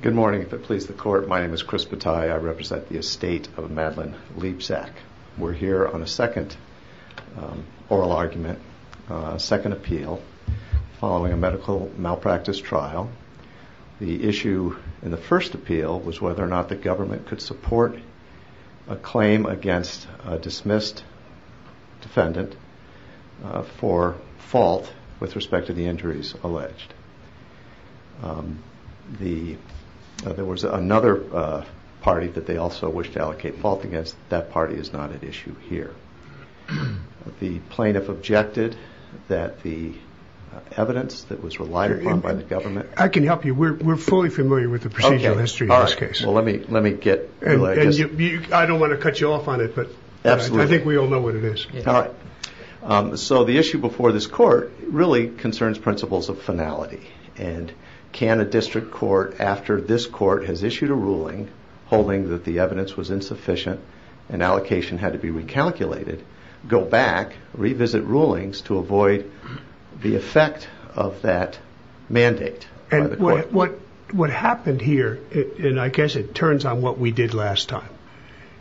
Good morning. If it pleases the court, my name is Chris Bataille. I represent the estate of Madeleine Liebsack. We're here on a second oral argument, second appeal, following a medical malpractice trial. The issue in the first appeal was whether or not the government could support a claim against a dismissed defendant for fault with respect to the injuries alleged. There was another party that they also wished to allocate fault against. That party is not at issue here. The plaintiff objected that the evidence that was relied upon by the government... I can help you. We're fully familiar with the procedural history of this case. Well, let me get... I don't want to cut you off on it, but I think we all know what it is. So the issue before this court really concerns principles of finality. And can a district court, after this court has issued a ruling holding that the evidence was insufficient and allocation had to be recalculated, go back, revisit rulings to avoid the effect of that mandate? And what happened here, and I guess it turns on what we did last time,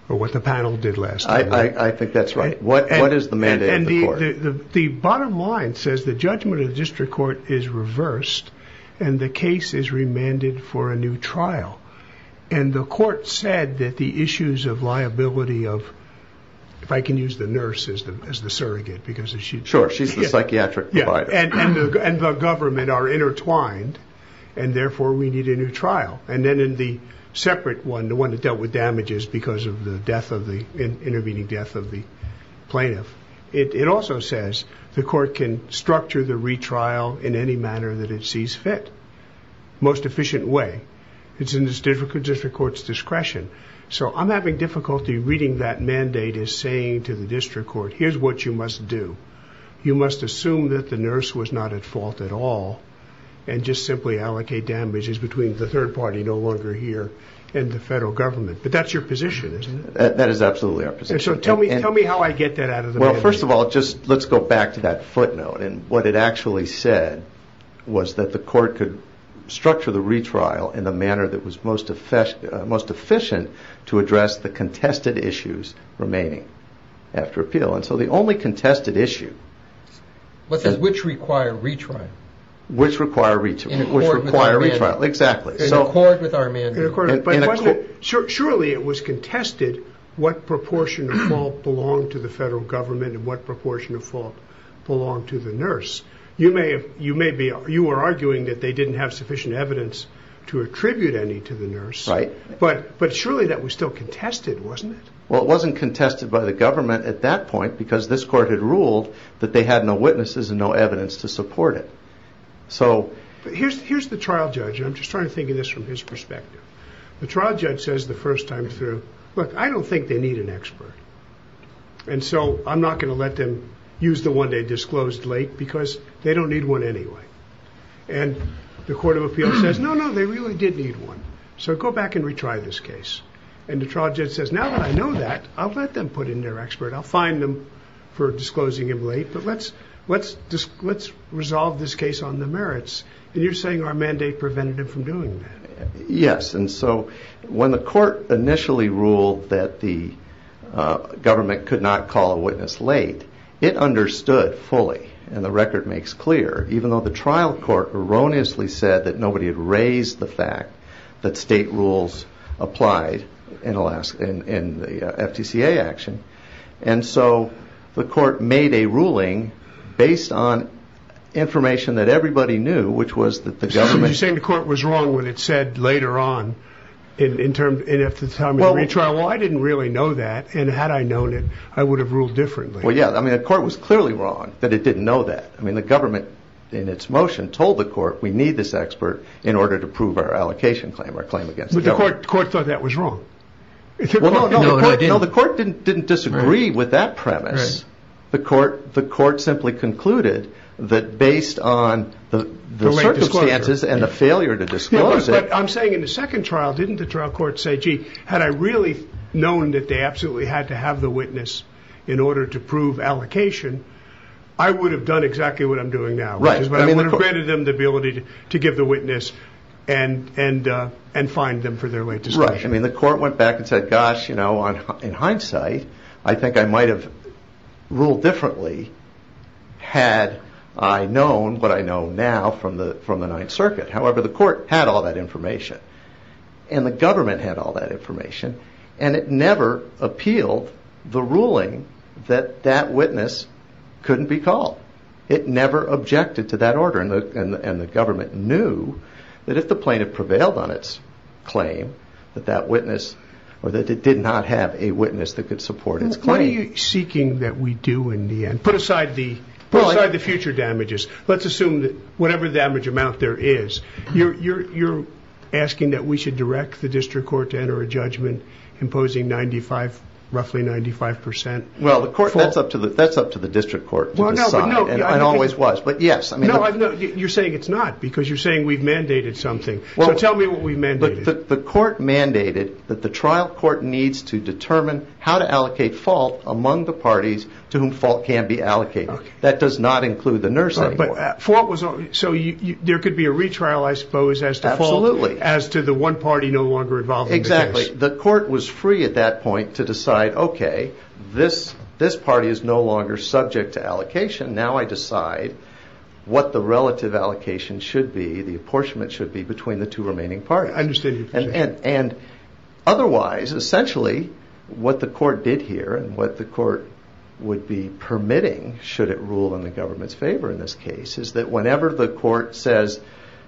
or what the panel did last time. I think that's right. What is the mandate of the court? The bottom line says the judgment of the district court is reversed and the case is remanded for a new trial. And the court said that the issues of liability of... if I can use the nurse as the surrogate because she... Sure, she's the psychiatric provider. And the government are intertwined and therefore we need a new trial. And then in the separate one, the one that dealt with damages because of the death of the... intervening death of the plaintiff, it also says the court can structure the retrial in any manner that it sees fit, most efficient way. It's in the district court's discretion. So I'm having difficulty reading that mandate as saying to the district court, here's what you must do. You must assume that the nurse was not at fault at all and just simply allocate damages between the third party no longer here and the federal government. But that's your position, isn't it? That is absolutely our position. So tell me how I get that out of the mandate. to address the contested issues remaining after appeal. And so the only contested issue... Which require retrial. In accord with our mandate. Exactly. In accord with our mandate. Surely it was contested what proportion of fault belonged to the federal government and what proportion of fault belonged to the nurse. You were arguing that they didn't have sufficient evidence to attribute any to the nurse. Right. But surely that was still contested, wasn't it? Well, it wasn't contested by the government at that point because this court had ruled that they had no witnesses and no evidence to support it. So... Here's the trial judge. I'm just trying to think of this from his perspective. The trial judge says the first time through, look, I don't think they need an expert. And so I'm not going to let them use the one they disclosed late because they don't need one anyway. And the court of appeals says, no, no, they really did need one. So go back and retry this case. And the trial judge says, now that I know that, I'll let them put in their expert. I'll fine them for disclosing him late. But let's resolve this case on the merits. And you're saying our mandate prevented him from doing that. Yes. And so when the court initially ruled that the government could not call a witness late, it understood fully, and the record makes clear, even though the trial court erroneously said that nobody had raised the fact that state rules applied in the FTCA action. And so the court made a ruling based on information that everybody knew, which was that the government... Well, I didn't really know that. And had I known it, I would have ruled differently. Well, yeah. I mean, the court was clearly wrong that it didn't know that. I mean, the government, in its motion, told the court, we need this expert in order to prove our allocation claim, our claim against Hillary. But the court thought that was wrong. No, the court didn't disagree with that premise. The court simply concluded that based on the circumstances and the failure to disclose it... I'm saying in the second trial, didn't the trial court say, gee, had I really known that they absolutely had to have the witness in order to prove allocation, I would have done exactly what I'm doing now. Right. But I would have granted them the ability to give the witness and fine them for their late disclosure. Right. I mean, the court went back and said, gosh, in hindsight, I think I might have ruled differently had I known what I know now from the Ninth Circuit. However, the court had all that information. And the government had all that information. And it never appealed the ruling that that witness couldn't be called. It never objected to that order. And the government knew that if the plaintiff prevailed on its claim, that that witness or that it did not have a witness that could support its claim. What are you seeking that we do in the end? Put aside the future damages. Let's assume that whatever damage amount there is, you're asking that we should direct the district court to enter a judgment imposing roughly 95 percent? Well, the court that's up to the that's up to the district court. And I always was. But yes, I mean, I know you're saying it's not because you're saying we've mandated something. Well, tell me what we meant. But the court mandated that the trial court needs to determine how to allocate fault among the parties to whom fault can be allocated. That does not include the nurse. But for what was so there could be a retrial, I suppose, as to absolutely as to the one party no longer involved. Exactly. The court was free at that point to decide, OK, this this party is no longer subject to allocation. Now I decide what the relative allocation should be. The apportionment should be between the two remaining parties. And otherwise, essentially, what the court did here and what the court would be permitting, should it rule in the government's favor in this case, is that whenever the court says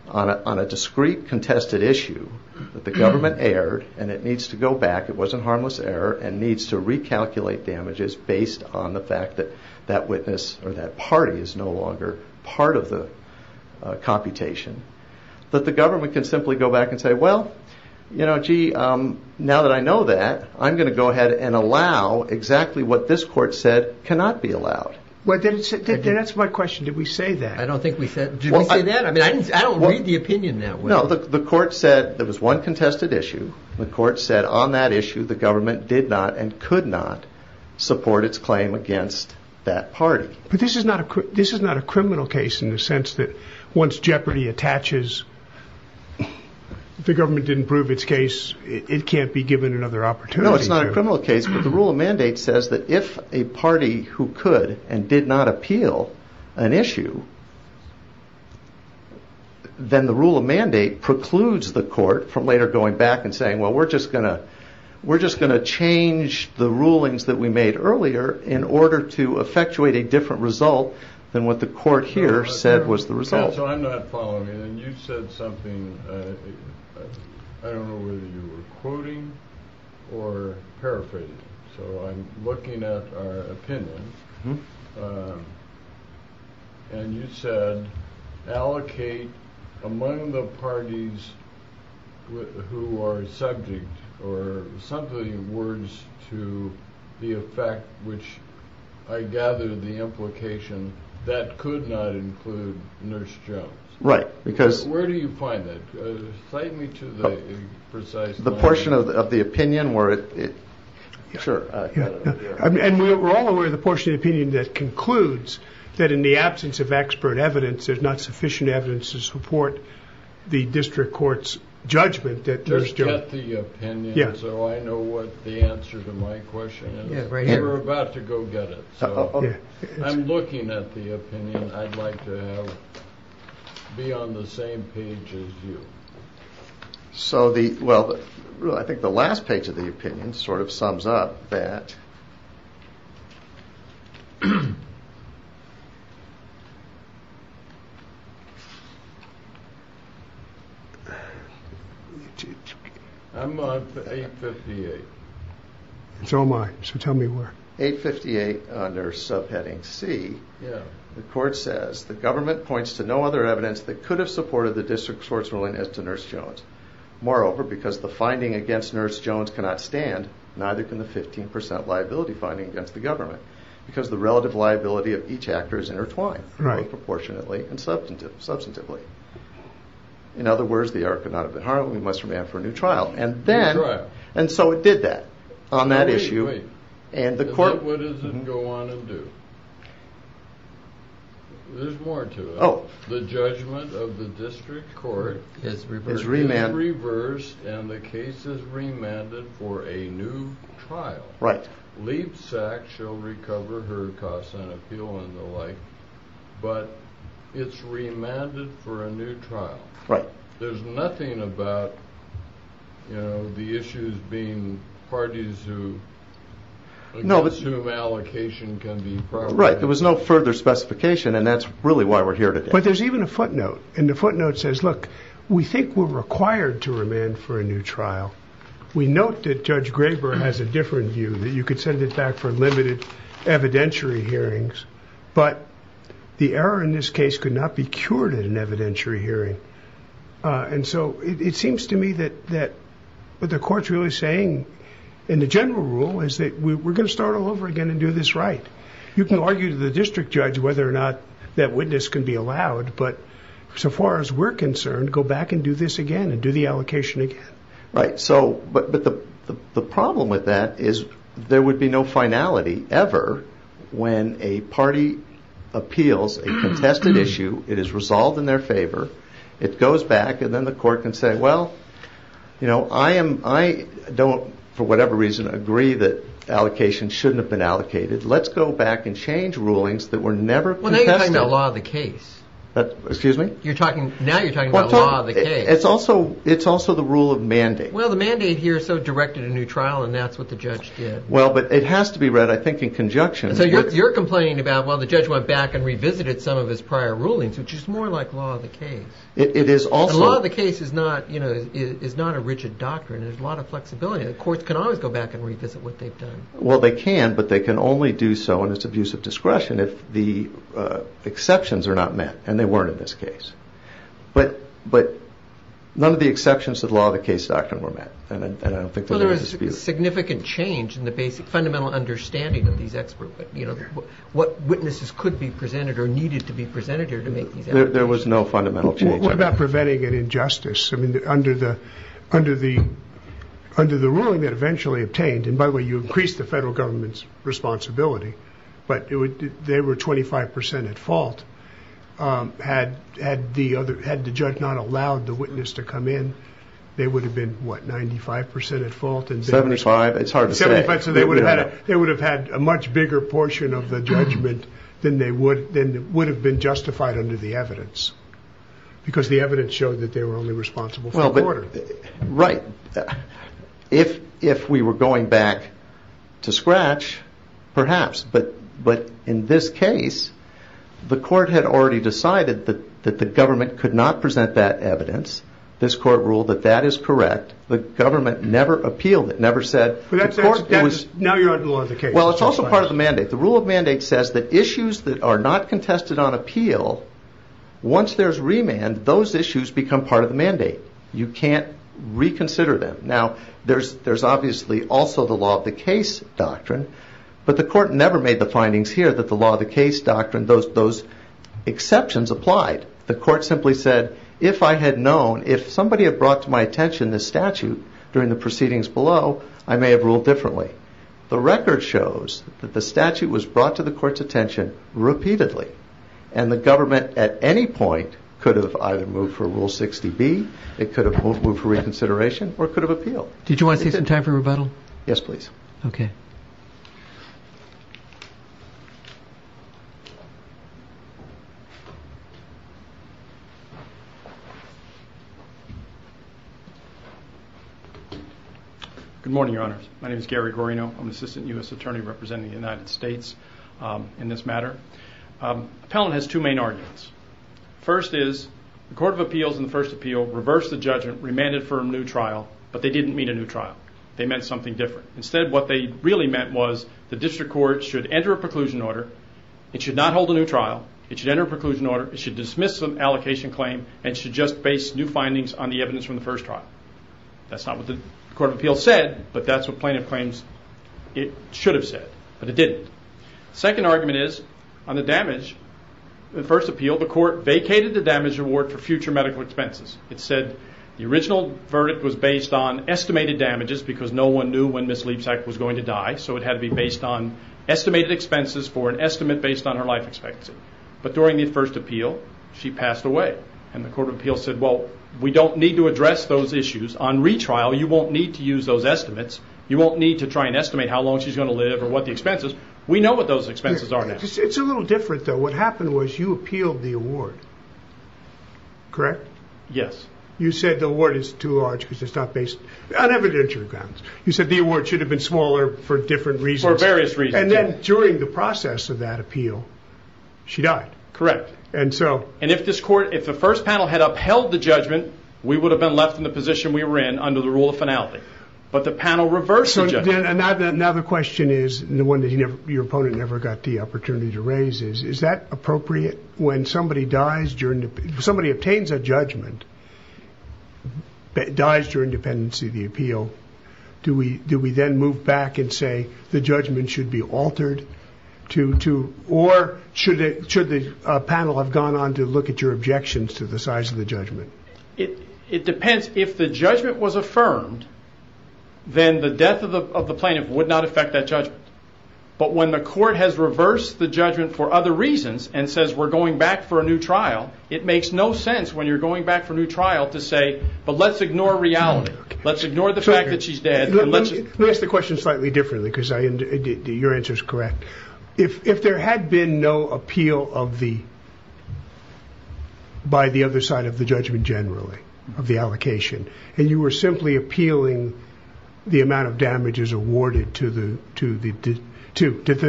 on a discrete contested issue that the government erred and it needs to go back, it wasn't harmless error and needs to recalculate damages based on the fact that that witness or that party is no longer part of the computation. But the government can simply go back and say, well, you know, gee, now that I know that, I'm going to go ahead and allow exactly what this court said cannot be allowed. Well, that's my question. Did we say that? I don't think we said that. I mean, I don't read the opinion that way. No, the court said there was one contested issue. The court said on that issue, the government did not and could not support its claim against that party. But this is not a criminal case in the sense that once jeopardy attaches, the government didn't prove its case, it can't be given another opportunity. No, it's not a criminal case, but the rule of mandate says that if a party who could and did not appeal an issue, then the rule of mandate precludes the court from later going back and saying, well, we're just going to change the rulings that we made earlier in order to effectuate a different result than what the court here said was the result. So I'm not following. And you said something. I don't know whether you were quoting or paraphrasing. So I'm looking at our opinion. And you said allocate among the parties who are subject or something in words to the effect which I gather the implication that could not include Nurse Jones. Right. Because where do you find that? Cite me to the precise point. Sure. And we're all aware of the portion of the opinion that concludes that in the absence of expert evidence, there's not sufficient evidence to support the district court's judgment. Just get the opinion so I know what the answer to my question is. We're about to go get it. I'm looking at the opinion. I'd like to be on the same page as you. So the, well, I think the last page of the opinion sort of sums up that. It's all mine. So tell me where. Well, if you look at 858 Nurse subheading C, the court says the government points to no other evidence that could have supported the district court's ruling as to Nurse Jones. Moreover, because the finding against Nurse Jones cannot stand, neither can the 15% liability finding against the government, because the relative liability of each actor is intertwined. Right. Is that what it doesn't go on to do? There's more to it. The judgment of the district court is reversed and the case is remanded for a new trial. But it's remanded for a new trial. Right. There's nothing about, you know, the issues being parties who, against whom allocation can be provided. Right. There was no further specification and that's really why we're here today. But there's even a footnote and the footnote says, look, we think we're required to remand for a new trial. We note that Judge Graber has a different view, that you could send it back for limited evidentiary hearings, but the error in this case could not be cured in an evidentiary hearing. And so it seems to me that what the court's really saying in the general rule is that we're going to start all over again and do this right. You can argue to the district judge whether or not that witness can be allowed, but so far as we're concerned, go back and do this again and do the allocation again. Right. But the problem with that is there would be no finality ever when a party appeals a contested issue, it is resolved in their favor, it goes back and then the court can say, well, I don't, for whatever reason, agree that allocation shouldn't have been allocated. Let's go back and change rulings that were never contested. Excuse me? You're talking, now you're talking about law of the case. It's also, it's also the rule of mandate. Well, the mandate here so directed a new trial and that's what the judge did. Well, but it has to be read, I think, in conjunction. So you're complaining about, well, the judge went back and revisited some of his prior rulings, which is more like law of the case. It is also. Law of the case is not, you know, is not a rigid doctrine. There's a lot of flexibility. The courts can always go back and revisit what they've done. Well, they can, but they can only do so in its abuse of discretion if the exceptions are not met, and they weren't in this case. But, but none of the exceptions to the law of the case doctrine were met. And I don't think that there is a dispute. Well, there was a significant change in the basic fundamental understanding of these expert, you know, what witnesses could be presented or needed to be presented here to make these evidence. There was no fundamental change. What about preventing an injustice? I mean, under the, under the, under the ruling that eventually obtained, and by the way, you increased the federal government's responsibility, but they were 25 percent at fault. Had, had the other, had the judge not allowed the witness to come in, they would have been, what, 95 percent at fault? Seventy-five, it's hard to say. They would have had a much bigger portion of the judgment than they would, than would have been justified under the evidence. Because the evidence showed that they were only responsible for the court. Right. If, if we were going back to scratch, perhaps, but, but in this case, the court had already decided that, that the government could not present that evidence. This court ruled that that is correct. The government never appealed it, never said. But that's, that's, now you're out of the law of the case. Well, it's also part of the mandate. The rule of mandate says that issues that are not contested on appeal, once there's remand, those issues become part of the mandate. You can't reconsider them. Now, there's, there's obviously also the law of the case doctrine, but the court never made the findings here that the law of the case doctrine, those, those exceptions applied. The court simply said, if I had known, if somebody had brought to my attention this statute during the proceedings below, I may have ruled differently. The record shows that the statute was brought to the court's attention repeatedly. And the government, at any point, could have either moved for Rule 60B, it could have moved for reconsideration, or it could have appealed. Did you want to save some time for rebuttal? Yes, please. Okay. Good morning, Your Honors. My name is Gary Guarino. I'm the Assistant U.S. Attorney representing the United States in this matter. Appellant has two main arguments. First is, the Court of Appeals in the first appeal reversed the judgment, remanded for a new trial, but they didn't meet a new trial. They met something different. Instead, what they really met was, the district court should enter a preclusion order, it should not hold a new trial, it should enter a preclusion order, it should dismiss some allocation claim, and it should just base new findings on the evidence from the first trial. That's not what the Court of Appeals said, but that's what plaintiff claims it should have said. But it didn't. Second argument is, on the damage, the first appeal, the court vacated the damage reward for future medical expenses. It said the original verdict was based on estimated damages, because no one knew when Ms. Leipsack was going to die, so it had to be based on estimated expenses for an estimate based on her life expectancy. But during the first appeal, she passed away, and the Court of Appeals said, well, we don't need to address those issues. On retrial, you won't need to use those estimates. You won't need to try and estimate how long she's going to live or what the expenses. We know what those expenses are now. It's a little different, though. What happened was, you appealed the award, correct? Yes. You said the award is too large because it's not based on evidentiary grounds. You said the award should have been smaller for different reasons. For various reasons. And then during the process of that appeal, she died. Correct. And if the first panel had upheld the judgment, we would have been left in the position we were in under the rule of finality. But the panel reversed the judgment. Now the question is, and the one that your opponent never got the opportunity to raise is, is that appropriate when somebody obtains a judgment, dies during dependency of the appeal, do we then move back and say the judgment should be altered? Or should the panel have gone on to look at your objections to the size of the judgment? It depends. If the judgment was affirmed, then the death of the plaintiff would not affect that judgment. But when the court has reversed the judgment for other reasons and says we're going back for a new trial, it makes no sense when you're going back for a new trial to say, but let's ignore reality. Let's ignore the fact that she's dead. Let me ask the question slightly differently because your answer is correct. If there had been no appeal by the other side of the judgment generally, of the allocation, and you were simply appealing the amount of damages awarded to the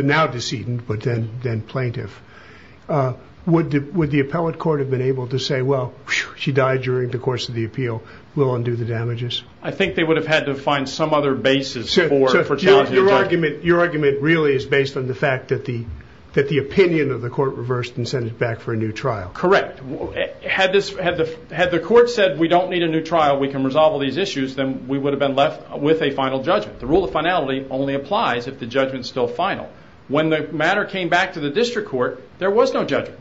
now decedent but then plaintiff, would the appellate court have been able to say, well, she died during the course of the appeal. We'll undo the damages. I think they would have had to find some other basis for challenging the judgment. Your argument really is based on the fact that the opinion of the court reversed and sent it back for a new trial. Correct. Had the court said we don't need a new trial, we can resolve all these issues, then we would have been left with a final judgment. The rule of finality only applies if the judgment is still final. When the matter came back to the district court, there was no judgment.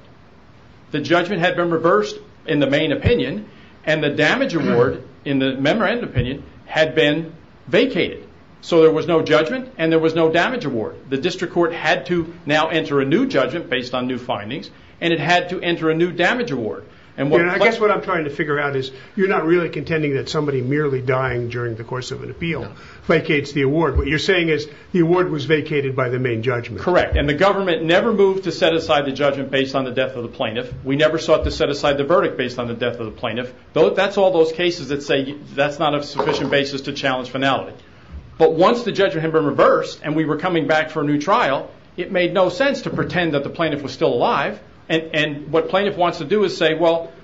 The judgment had been reversed in the main opinion and the damage award in the memorandum opinion had been vacated. So there was no judgment and there was no damage award. The district court had to now enter a new judgment based on new findings and it had to enter a new damage award. I guess what I'm trying to figure out is you're not really contending that somebody merely dying during the course of an appeal vacates the award. What you're saying is the award was vacated by the main judgment. Correct, and the government never moved to set aside the judgment based on the death of the plaintiff. We never sought to set aside the verdict based on the death of the plaintiff. That's all those cases that say that's not a sufficient basis to challenge finality. Once the judgment had been reversed and we were coming back for a new trial, it made no sense to pretend that the plaintiff was still alive. What plaintiff wants to do is say,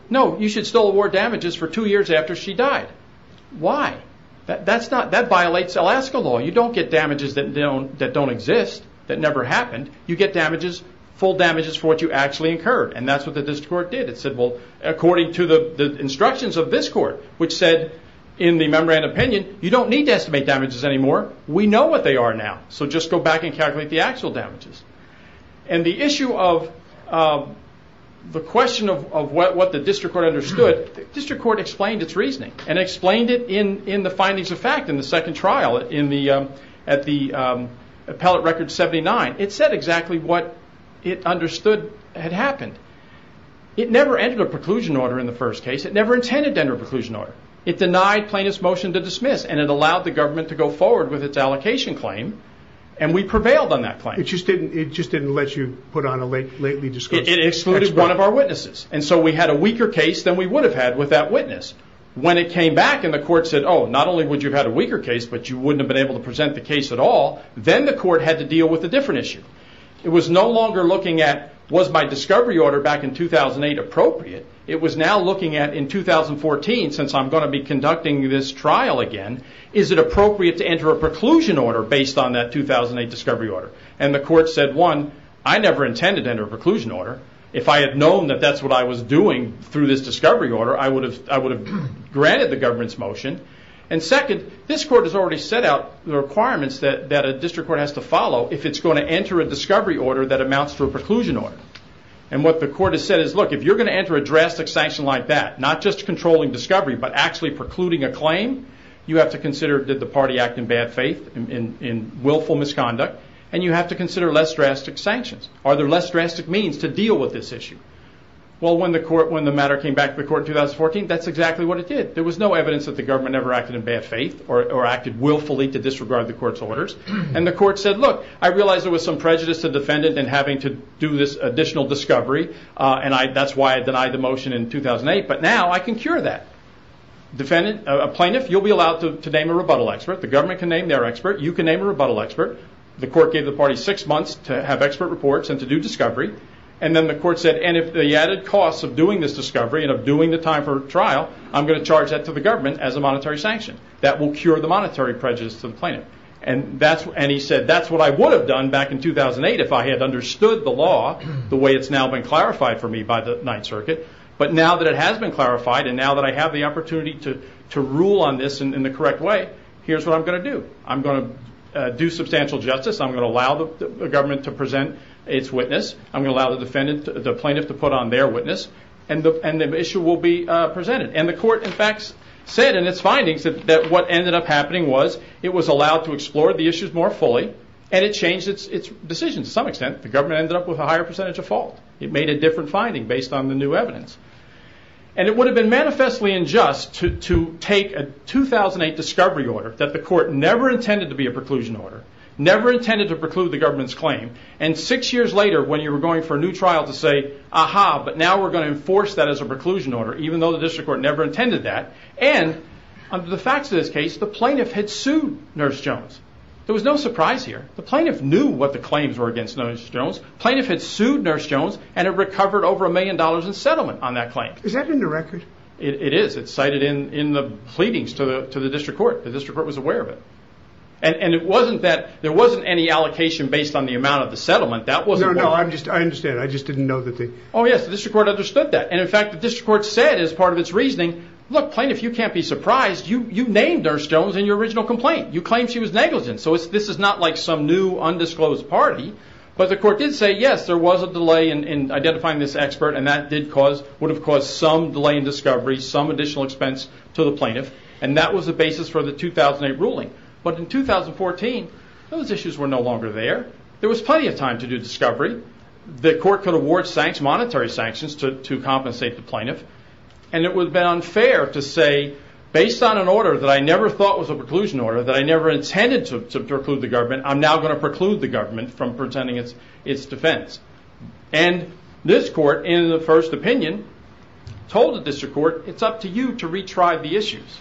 no, you should still award damages for two years after she died. Why? That violates Alaska law. You don't get damages that don't exist, that never happened. You get full damages for what you actually incurred and that's what the district court did. It said, well, according to the instructions of this court, which said in the Memorandum of Opinion, you don't need to estimate damages anymore. We know what they are now, so just go back and calculate the actual damages. The issue of the question of what the district court understood, the district court explained its reasoning and explained it in the findings of fact in the second trial at the appellate record 79. It said exactly what it understood had happened. It never entered a preclusion order in the first case. It never intended to enter a preclusion order. It denied plaintiff's motion to dismiss and it allowed the government to go forward with its allocation claim and we prevailed on that claim. It just didn't let you put on a lately discussion. It excluded one of our witnesses and so we had a weaker case than we would have had with that witness. When it came back and the court said, oh, not only would you have had a weaker case, but you wouldn't have been able to present the case at all, then the court had to deal with a different issue. It was no longer looking at was my discovery order back in 2008 appropriate? It was now looking at in 2014, since I'm going to be conducting this trial again, is it appropriate to enter a preclusion order based on that 2008 discovery order? The court said, one, I never intended to enter a preclusion order. If I had known that that's what I was doing through this discovery order, I would have granted the government's motion. Second, this court has already set out the requirements that a district court has to follow if it's going to enter a discovery order that amounts to a preclusion order. What the court has said is, look, if you're going to enter a drastic sanction like that, not just controlling discovery but actually precluding a claim, you have to consider did the party act in bad faith, in willful misconduct, and you have to consider less drastic sanctions. Are there less drastic means to deal with this issue? When the matter came back to the court in 2014, that's exactly what it did. There was no evidence that the government ever acted in bad faith or acted willfully to disregard the court's orders. The court said, look, I realize there was some prejudice to the defendant in having to do this additional discovery, and that's why I denied the motion in 2008, but now I can cure that. A plaintiff, you'll be allowed to name a rebuttal expert. The government can name their expert. You can name a rebuttal expert. The court gave the party six months to have expert reports and to do discovery. Then the court said, if the added cost of doing this discovery and of doing the time for trial, I'm going to charge that to the government as a monetary sanction. That will cure the monetary prejudice to the plaintiff. He said, that's what I would have done back in 2008 if I had understood the law the way it's now been clarified for me by the Ninth Circuit, but now that it has been clarified and now that I have the opportunity to rule on this in the correct way, here's what I'm going to do. I'm going to do substantial justice. I'm going to allow the government to present its witness. I'm going to allow the plaintiff to put on their witness, and the issue will be presented. The court, in fact, said in its findings that what ended up happening was it was allowed to explore the issues more fully, and it changed its decisions to some extent. The government ended up with a higher percentage of fault. It made a different finding based on the new evidence. It would have been manifestly unjust to take a 2008 discovery order that the court never intended to be a preclusion order, never intended to preclude the government's claim, and six years later when you were going for a new trial to say, aha, but now we're going to enforce that as a preclusion order, even though the district court never intended that, and under the facts of this case, the plaintiff had sued Nurse Jones. There was no surprise here. The plaintiff knew what the claims were against Nurse Jones. The plaintiff had sued Nurse Jones, and it recovered over a million dollars in settlement on that claim. Is that in the record? It is. It's cited in the pleadings to the district court. The district court was aware of it, and it wasn't that there wasn't any allocation based on the amount of the settlement. No, no, I understand. I just didn't know that they... Oh, yes, the district court understood that, and in fact the district court said as part of its reasoning, look, plaintiff, you can't be surprised. You named Nurse Jones in your original complaint. You claimed she was negligent, so this is not like some new undisclosed party, but the court did say, yes, there was a delay in identifying this expert, and that would have caused some delay in discovery, some additional expense to the plaintiff, and that was the basis for the 2008 ruling, but in 2014, those issues were no longer there. There was plenty of time to do discovery. The court could award monetary sanctions to compensate the plaintiff, and it would have been unfair to say, based on an order that I never thought was a preclusion order, that I never intended to preclude the government, I'm now going to preclude the government from presenting its defense, and this court, in the first opinion, told the district court, it's up to you to retry the issues,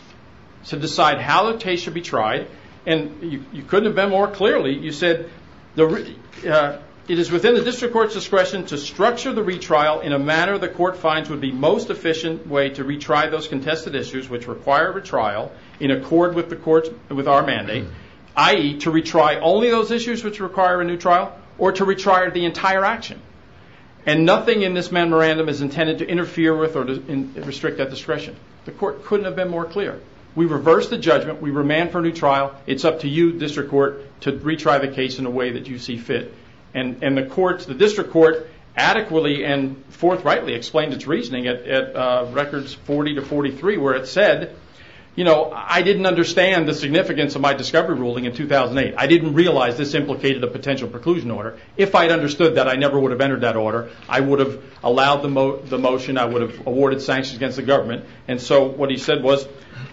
to decide how the case should be tried, and you couldn't have been more clearly. You said, it is within the district court's discretion to structure the retrial in a manner the court finds would be the most efficient way to retry those contested issues which require a retrial in accord with our mandate, i.e., to retry only those issues which require a new trial, or to retry the entire action, and nothing in this memorandum is intended to interfere with or restrict that discretion. The court couldn't have been more clear. We reversed the judgment. We remand for a new trial. It's up to you, district court, to retry the case in a way that you see fit, and the district court adequately and forthrightly explained its reasoning at records 40 to 43, where it said, I didn't understand the significance of my discovery ruling in 2008. I didn't realize this implicated a potential preclusion order. If I had understood that, I never would have entered that order. I would have allowed the motion. I would have awarded sanctions against the government, and so what he said was,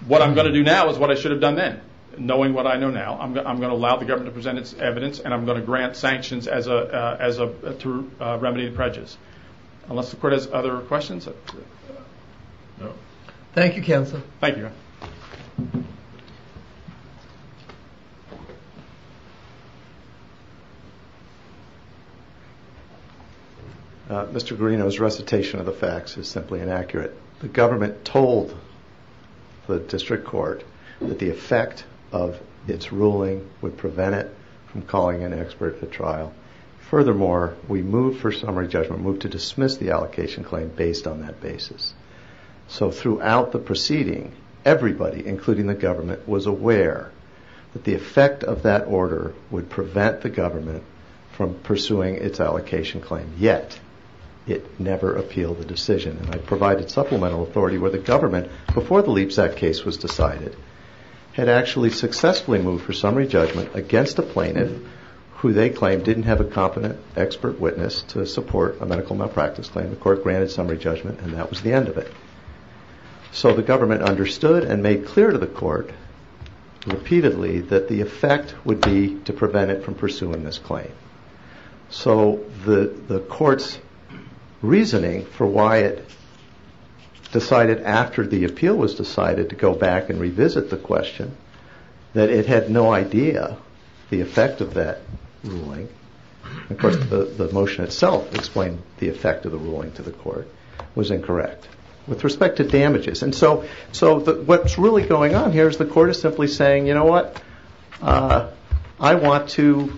what I'm going to do now is what I should have done then, knowing what I know now, I'm going to allow the government to present its evidence, and I'm going to grant sanctions as a remedy to prejudice. Unless the court has other questions? No. Thank you, counsel. Thank you. Mr. Greenough's recitation of the facts is simply inaccurate. The government told the district court that the effect of its ruling would prevent it from calling an expert for trial. Furthermore, we moved for summary judgment, moved to dismiss the allocation claim based on that basis. So throughout the proceeding, everybody, including the government, was aware that the effect of that order would prevent the government from pursuing its allocation claim, yet it never appealed the decision, and I provided supplemental authority where the government, before the Leaps Act case was decided, had actually successfully moved for summary judgment against a plaintiff who they claimed didn't have a competent expert witness to support a medical malpractice claim. The court granted summary judgment, and that was the end of it. So the government understood and made clear to the court repeatedly that the effect would be to prevent it from pursuing this claim. So the court's reasoning for why it decided after the appeal was decided to go back and revisit the question that it had no idea the effect of that ruling, of course the motion itself explained the effect of the ruling to the court, was incorrect with respect to damages. So what's really going on here is the court is simply saying, you know what, I want to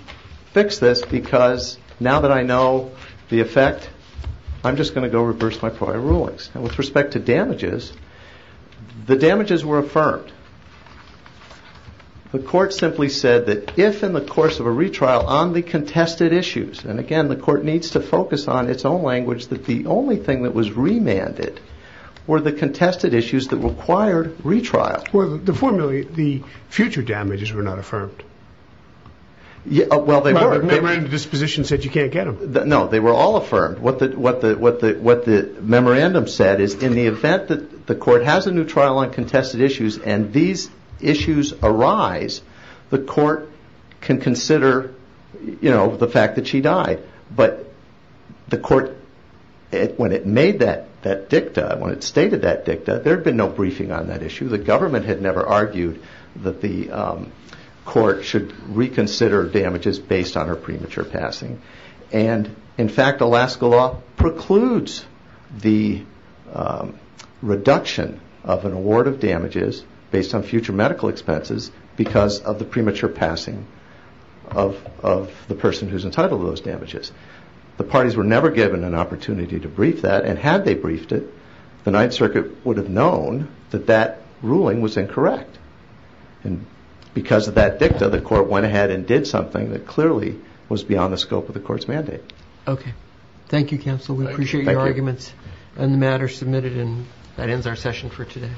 fix this because now that I know the effect, I'm just going to go reverse my prior rulings. With respect to damages, the damages were affirmed. The court simply said that if in the course of a retrial on the contested issues, and again the court needs to focus on its own language, that the only thing that was remanded were the contested issues that required retrial. Well, the future damages were not affirmed. Well, they were. The memorandum of disposition said you can't get them. No, they were all affirmed. But what the memorandum said is in the event that the court has a new trial on contested issues and these issues arise, the court can consider the fact that she died. But the court, when it made that dicta, when it stated that dicta, there had been no briefing on that issue. The government had never argued that the court should reconsider damages based on her premature passing. And in fact, Alaska law precludes the reduction of an award of damages based on future medical expenses because of the premature passing of the person who's entitled to those damages. The parties were never given an opportunity to brief that, and had they briefed it, the Ninth Circuit would have known that that ruling was incorrect. And because of that dicta, the court went ahead and did something that clearly was beyond the scope of the court's mandate. Okay. Thank you, counsel. We appreciate your arguments on the matter submitted, and that ends our session for today.